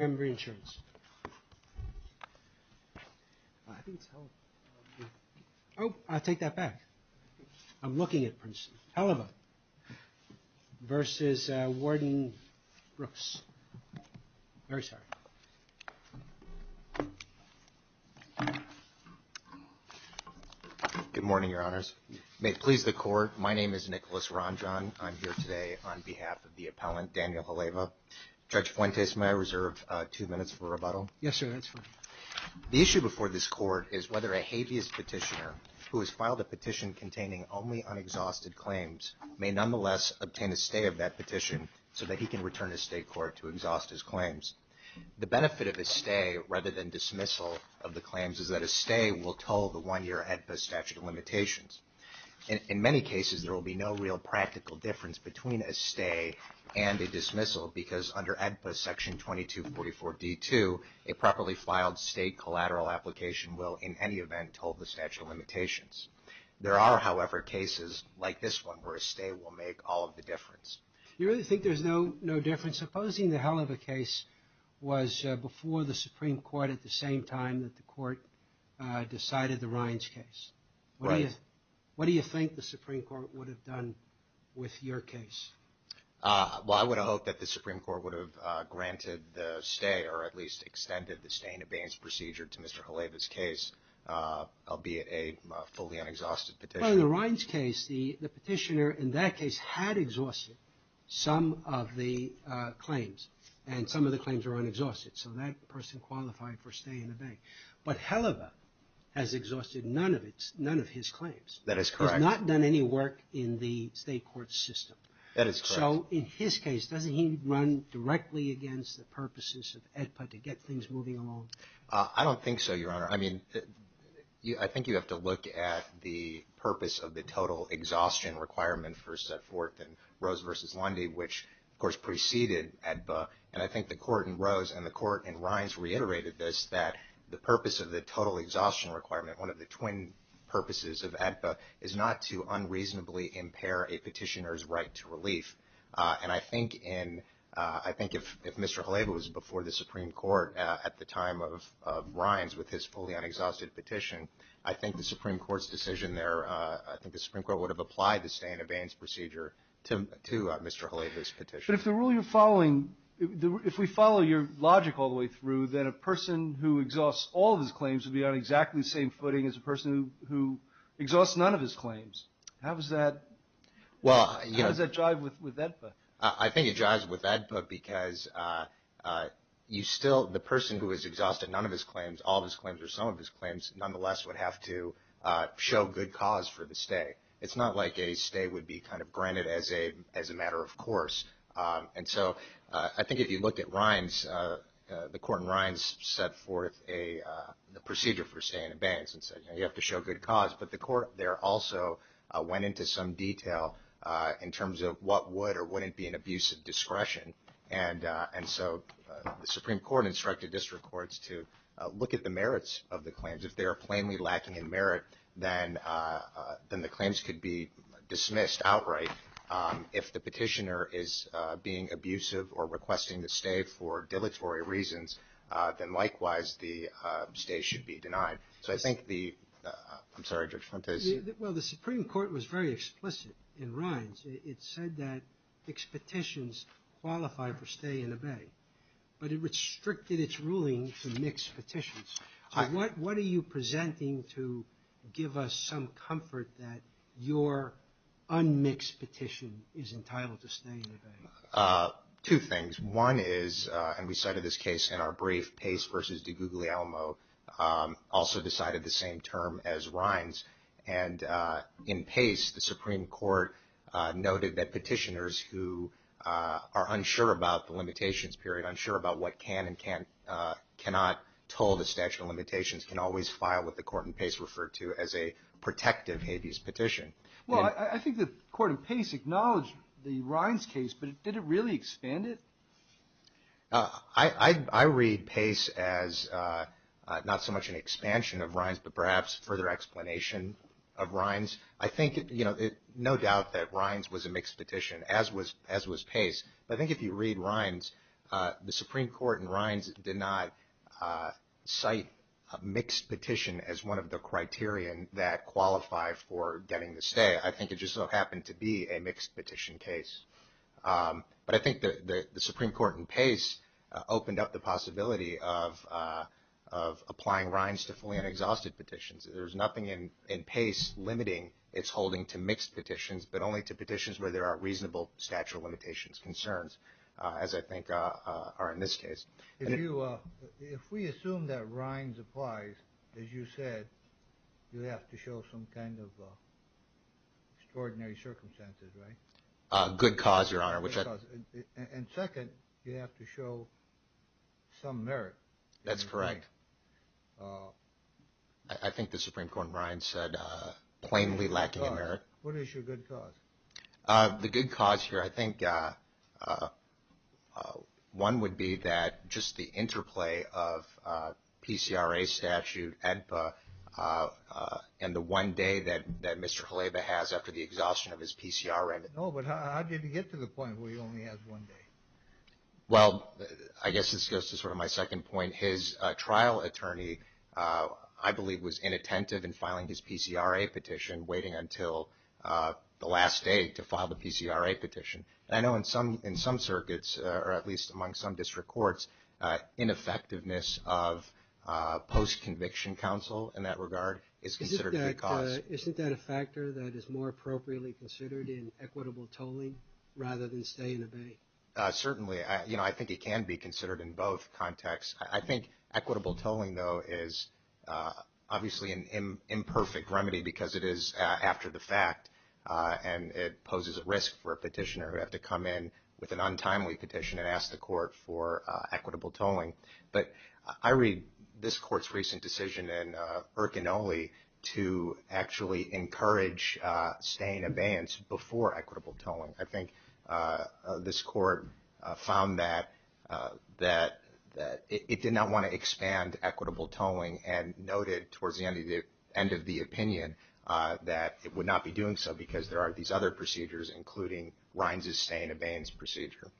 Good morning, Your Honors. May it please the Court, my name is Nicholas Ronjohn. I'm here to ask two minutes for rebuttal. The issue before this Court is whether a habeas petitioner who has filed a petition containing only unexhausted claims may nonetheless obtain a stay of that petition so that he can return to state court to exhaust his claims. The benefit of a stay rather than dismissal of the claims is that a stay will tow the one-year AEDPA statute of limitations. In many cases there will be no real practical difference between a stay and a dismissal because under AEDPA section 2244 D2, a properly filed state collateral application will in any event hold the statute of limitations. There are, however, cases like this one where a stay will make all of the difference. You really think there's no difference? Supposing the Heleva case was before the Supreme Court at the same time that the Court decided the Rines case. What do you think the Supreme Well, I would hope that the Supreme Court would have granted the stay or at least extended the stay in abeyance procedure to Mr. Heleva's case, albeit a fully unexhausted petition. Well, in the Rines case, the petitioner in that case had exhausted some of the claims and some of the claims were unexhausted. So that person qualified for stay in abeyance. But Heleva has exhausted none of his claims. That is correct. Heleva has not done any work in the state court system. So in his case, doesn't he run directly against the purposes of AEDPA to get things moving along? I don't think so, Your Honor. I mean, I think you have to look at the purpose of the total exhaustion requirement for Setforth and Rose v. Lundy, which of course preceded AEDPA. And I think the Court in Rose and the Court in Rines reiterated this, that the purpose of the total exhaustion requirement, one of the twin purposes of AEDPA, is not to unreasonably impair a petitioner's right to relief. And I think if Mr. Heleva was before the Supreme Court at the time of Rines with his fully unexhausted petition, I think the Supreme Court's decision there, I think the Supreme Court would have applied the stay in abeyance procedure to Mr. Heleva's petition. But if the rule you're following, if we follow your logic all the way through, then a person who exhausts all of his claims would be on exactly the same footing as a person who exhausts none of his claims. How does that jive with AEDPA? I think it jives with AEDPA because you still, the person who has exhausted none of his claims, all of his claims or some of his claims, nonetheless would have to show good cause for the stay. It's not like a stay would be kind of granted as a matter of course. And so I think if you look at Rines, the court in Rines set forth a procedure for stay in abeyance and said you have to show good cause. But the court there also went into some detail in terms of what would or wouldn't be an abuse of discretion. And so the Supreme Court instructed district courts to look at the merits of the claims. If they are plainly lacking in merit, then the claims could be dismissed outright. If the petitioner is being abusive or requesting the stay for dilatory reasons, then likewise the stay should be denied. So I think the, I'm sorry, Judge Fontes. Well the Supreme Court was very explicit in Rines. It said that mixed petitions qualify for stay in abey. But it restricted its ruling to mixed petitions. So what are you presenting to give us some comfort that your unmixed petition is entitled to stay in abeyance? Two things. One is, and we cited this case in our brief, Pace v. DiGuglielmo also decided the same term as Rines. And in Pace, the Supreme Court noted that petitioners who are unsure about the limitations period, unsure about what can and cannot toll the statute of limitations can always file what the court in Pace referred to as a protective habeas petition. Well I think the court in Pace acknowledged the Rines case, but did it really expand it? I read Pace as not so much an expansion of Rines, but perhaps further explanation of Rines. I think, you know, no doubt that Rines was a mixed petition, as was Pace. But I think if you read Rines, the Supreme Court in Rines did not cite a mixed petition as one of the cases to stay. I think it just so happened to be a mixed petition case. But I think the Supreme Court in Pace opened up the possibility of applying Rines to fully unexhausted petitions. There's nothing in Pace limiting its holding to mixed petitions, but only to petitions where there are reasonable statute of limitations concerns, as I think are in this case. If we assume that Rines applies, as you said, you have to show some kind of extraordinary circumstances, right? Good cause, Your Honor. And second, you have to show some merit. That's correct. I think the Supreme Court in Rines said plainly lacking in merit. What is your good cause? The good cause here, I think, one would be that just the interplay of PCRA statute ENPA and the one day that Mr. Haleba has after the exhaustion of his PCRA. No, but how did he get to the point where he only has one day? Well, I guess this goes to sort of my second point. His trial attorney, I believe, was inattentive in filing his PCRA petition, waiting until the last day to file the PCRA petition. I know in some circuits, or at least among some district courts, ineffectiveness of post-conviction counsel in that regard is considered good cause. Isn't that a factor that is more appropriately considered in equitable tolling, rather than stay and obey? Certainly. I think it can be considered in both contexts. I think equitable tolling, though, is obviously an imperfect remedy because it is after the fact. And it poses a risk for a petitioner who would have to come in with an untimely petition and ask the court for equitable tolling. But I read this court's recent decision in Urkinole to actually encourage stay and abeyance before equitable tolling. I think this court found that it did not want to expand equitable tolling and noted towards the end of the opinion that it would not be doing so because there are these other procedures, including Rines's stay and abeyance procedure.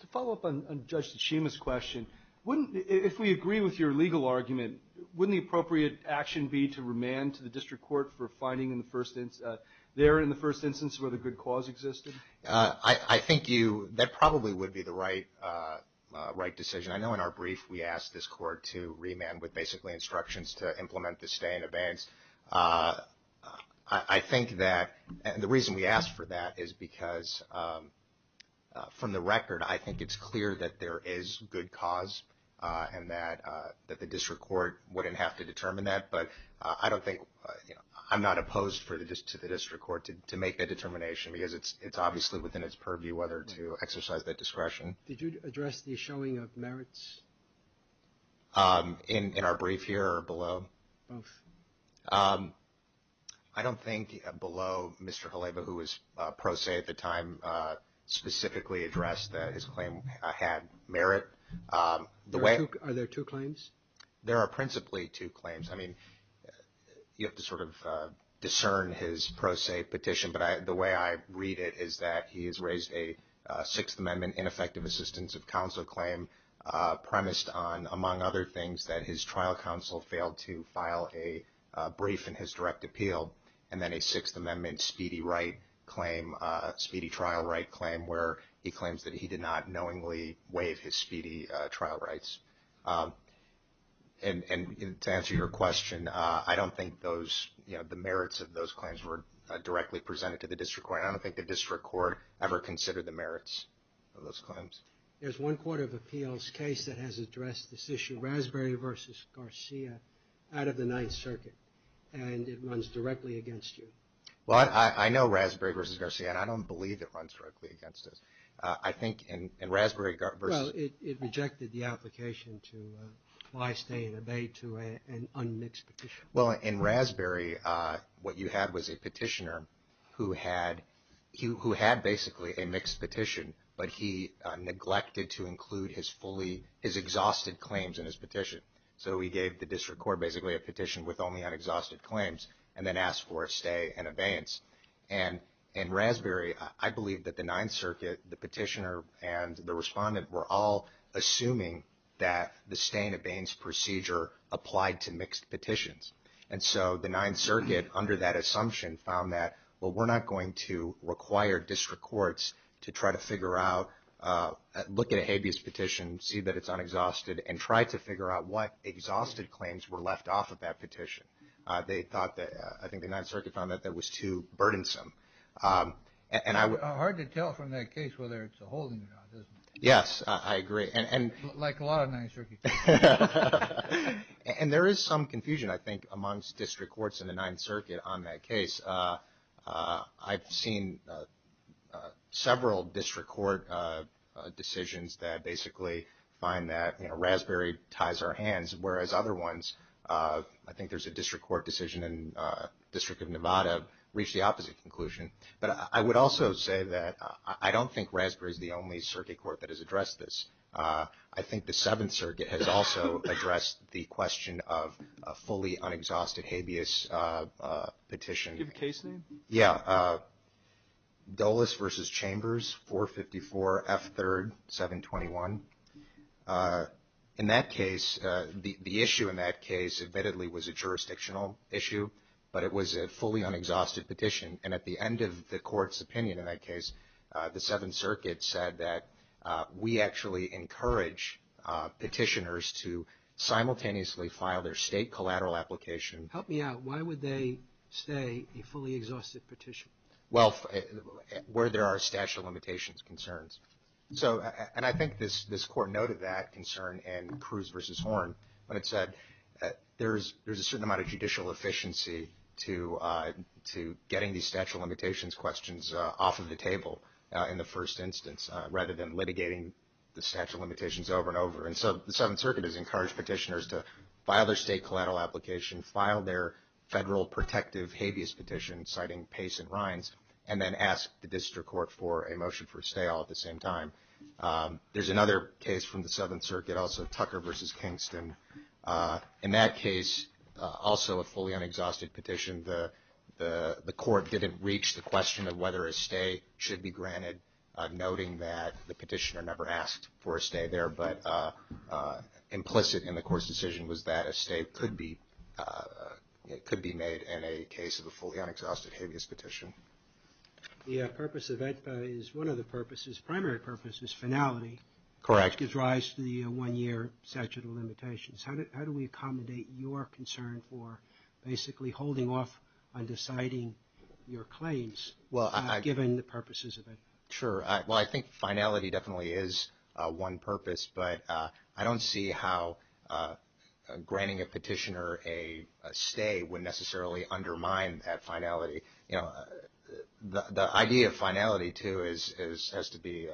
To follow up on Judge Tachima's question, if we agree with your legal argument, wouldn't the appropriate action be to remand to the district court for finding there in the first instance where the good cause existed? I think that probably would be the right decision. I know in our brief we asked this court to remand with basically instructions to implement the stay and abeyance. I think that the reason we asked for that is because, from the record, I think it's clear that there is good cause and that the district court wouldn't have to determine that. I'm not opposed to the district court to make that determination because it's obviously within its purview whether to exercise that discretion. Did you address the showing of merits? In our brief here or below? Both. I don't think below Mr. Haleba, who was pro se at the time, specifically addressed that his claim had merit. Are there two claims? There are principally two claims. I mean, you have to sort of discern his pro se petition, but the way I read it is that he has raised a Sixth Amendment ineffective assistance of counsel claim premised on, among other things, that his trial counsel failed to file a brief in his direct appeal and then a Sixth Amendment speedy trial right claim where he claims that he did not knowingly waive his speedy trial rights. And to answer your question, I don't think those, you know, the merits of those claims were directly presented to the district court. I don't think the district court ever considered the merits of those claims. There's one Court of Appeals case that has addressed this issue, Raspberry versus Garcia, out of the Ninth Circuit, and it runs directly against you. Well, I know Raspberry versus Garcia, and I don't believe it runs directly against us. I think in Raspberry versus... No, it rejected the application to apply, stay, and obey to an unmixed petition. Well, in Raspberry, what you had was a petitioner who had basically a mixed petition, but he neglected to include his fully, his exhausted claims in his petition. So he gave the district court basically a petition with only unexhausted claims and then asked for a stay and abeyance. And in Raspberry, I believe that the Ninth Circuit, the petitioner, and the respondent were all assuming that the stay and abeyance procedure applied to mixed petitions. And so the Ninth Circuit, under that assumption, found that, well, we're not going to require district courts to try to figure out, look at a habeas petition, see that it's unexhausted, and try to figure out what exhausted claims were left off of that petition. They thought that, I think the Ninth Circuit found that that was too burdensome. Hard to tell from that case whether it's a holding or not, isn't it? Yes, I agree. Like a lot of Ninth Circuit cases. And there is some confusion, I think, amongst district courts in the Ninth Circuit on that case. I've seen several district court decisions that basically find that, you know, Raspberry ties our hands, whereas other ones, I think there's a district court decision in the District of Nevada, reached the opposite conclusion. But I would also say that I don't think Raspberry is the only circuit court that has addressed this. I think the Seventh Circuit has also addressed the question of a fully unexhausted habeas petition. Do you have a case name? Yeah, Dulles v. Chambers, 454 F. 3rd, 721. In that case, the issue in that case admittedly was a jurisdictional issue, but it was a fully unexhausted petition. And at the end of the court's opinion in that case, the Seventh Circuit said that we actually encourage petitioners to simultaneously file their state collateral application. Help me out. Why would they say a fully exhausted petition? Well, where there are statute of limitations concerns. And I think this court noted that concern in Cruz v. Horn when it said there's a certain amount of judicial efficiency to getting these statute of limitations questions off of the table in the first instance, rather than litigating the statute of limitations over and over. And so the Seventh Circuit has encouraged petitioners to file their state collateral application, file their federal protective habeas petition, citing Pace and Rines, and then ask the district court for a motion for a stay all at the same time. There's another case from the Southern Circuit, also Tucker v. Kingston. In that case, also a fully unexhausted petition. The court didn't reach the question of whether a stay should be granted, noting that the petitioner never asked for a stay there, but implicit in the court's decision was that a stay could be made in a case of a fully unexhausted habeas petition. The purpose of that is one of the purposes, primary purpose is finality. Correct. Which gives rise to the one-year statute of limitations. How do we accommodate your concern for basically holding off on deciding your claims, given the purposes of it? Sure. Well, I think finality definitely is one purpose, but I don't see how granting a petitioner a stay would necessarily undermine that finality. The idea of finality, too, has to be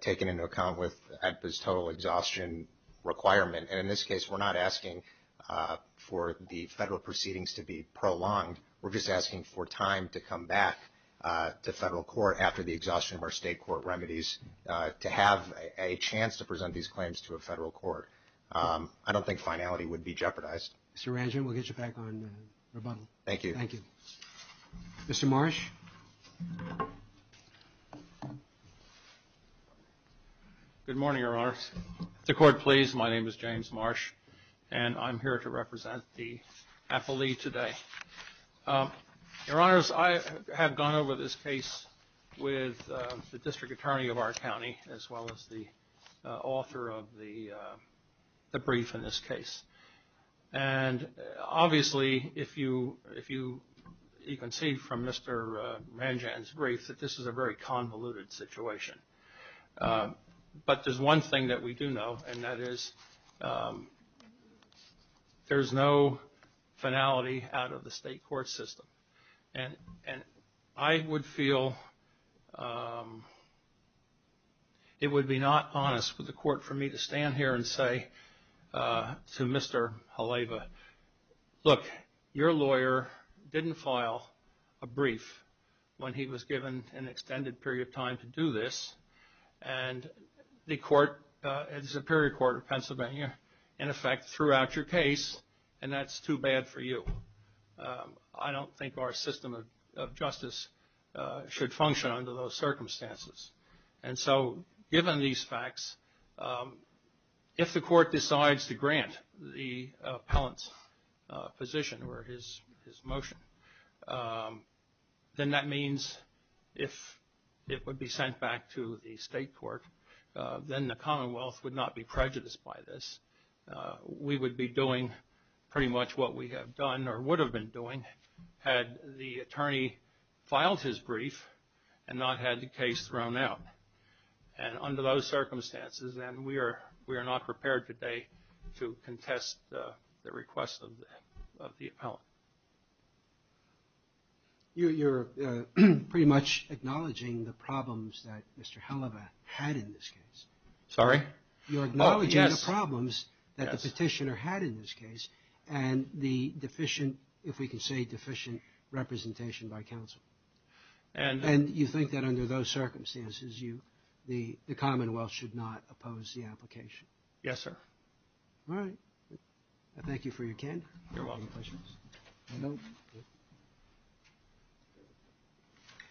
taken into account with ADPA's total exhaustion requirement. And in this case, we're not asking for the federal proceedings to be prolonged. We're just asking for time to come back to federal court after the exhaustion of our state court remedies to have a chance to present these claims to a federal court. I don't think finality would be jeopardized. Mr. Ranjan, we'll get you back on rebuttal. Thank you. Thank you. Mr. Marsh? Good morning, Your Honor. If the court please, my name is James Marsh, and I'm here to represent the appellee today. Your Honor, I have gone over this case with the district attorney of our county, as well as the author of the brief in this case. And obviously, you can see from Mr. Ranjan's brief that this is a very convoluted situation. But there's one thing that we do know, and that is there's no finality out of the state court system. And I would feel it would be not honest with the court for me to stand here and say to Mr. Haleva, look, your lawyer didn't file a brief when he was given an extended period of time to do this. And the court, the Superior Court of Pennsylvania, in effect threw out your case, and that's too bad for you. I don't think our system of justice should function under those circumstances. And so given these facts, if the court decides to grant the appellant's position or his motion, then that means if it would be sent back to the state court, then the Commonwealth would not be prejudiced by this. We would be doing pretty much what we have done or would have been doing had the attorney filed his brief and not had the case thrown out. And under those circumstances, then we are not prepared today to contest the request of the appellant. You're pretty much acknowledging the problems that Mr. Haleva had in this case. Sorry? You're acknowledging the problems that the petitioner had in this case and the deficient, if we can say deficient, representation by counsel. And you think that under those circumstances, the Commonwealth should not oppose the application? Yes, sir. All right. Thank you for your candor. You're welcome.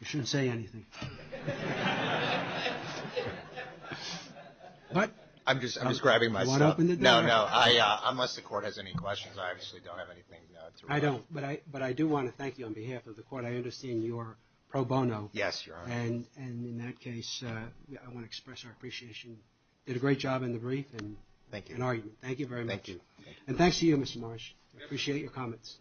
You shouldn't say anything. What? I'm just grabbing my stuff. You want to open the door? No, no. Unless the court has any questions, I obviously don't have anything to report. I don't. But I do want to thank you on behalf of the court. I understand you're pro bono. Yes, you are. And in that case, I want to express our appreciation. You did a great job in the brief and argument. Thank you. And thanks to you, Mr. Marsh. I appreciate your comments. Thank you. Thank you. Thank you. Thank you. Thank you.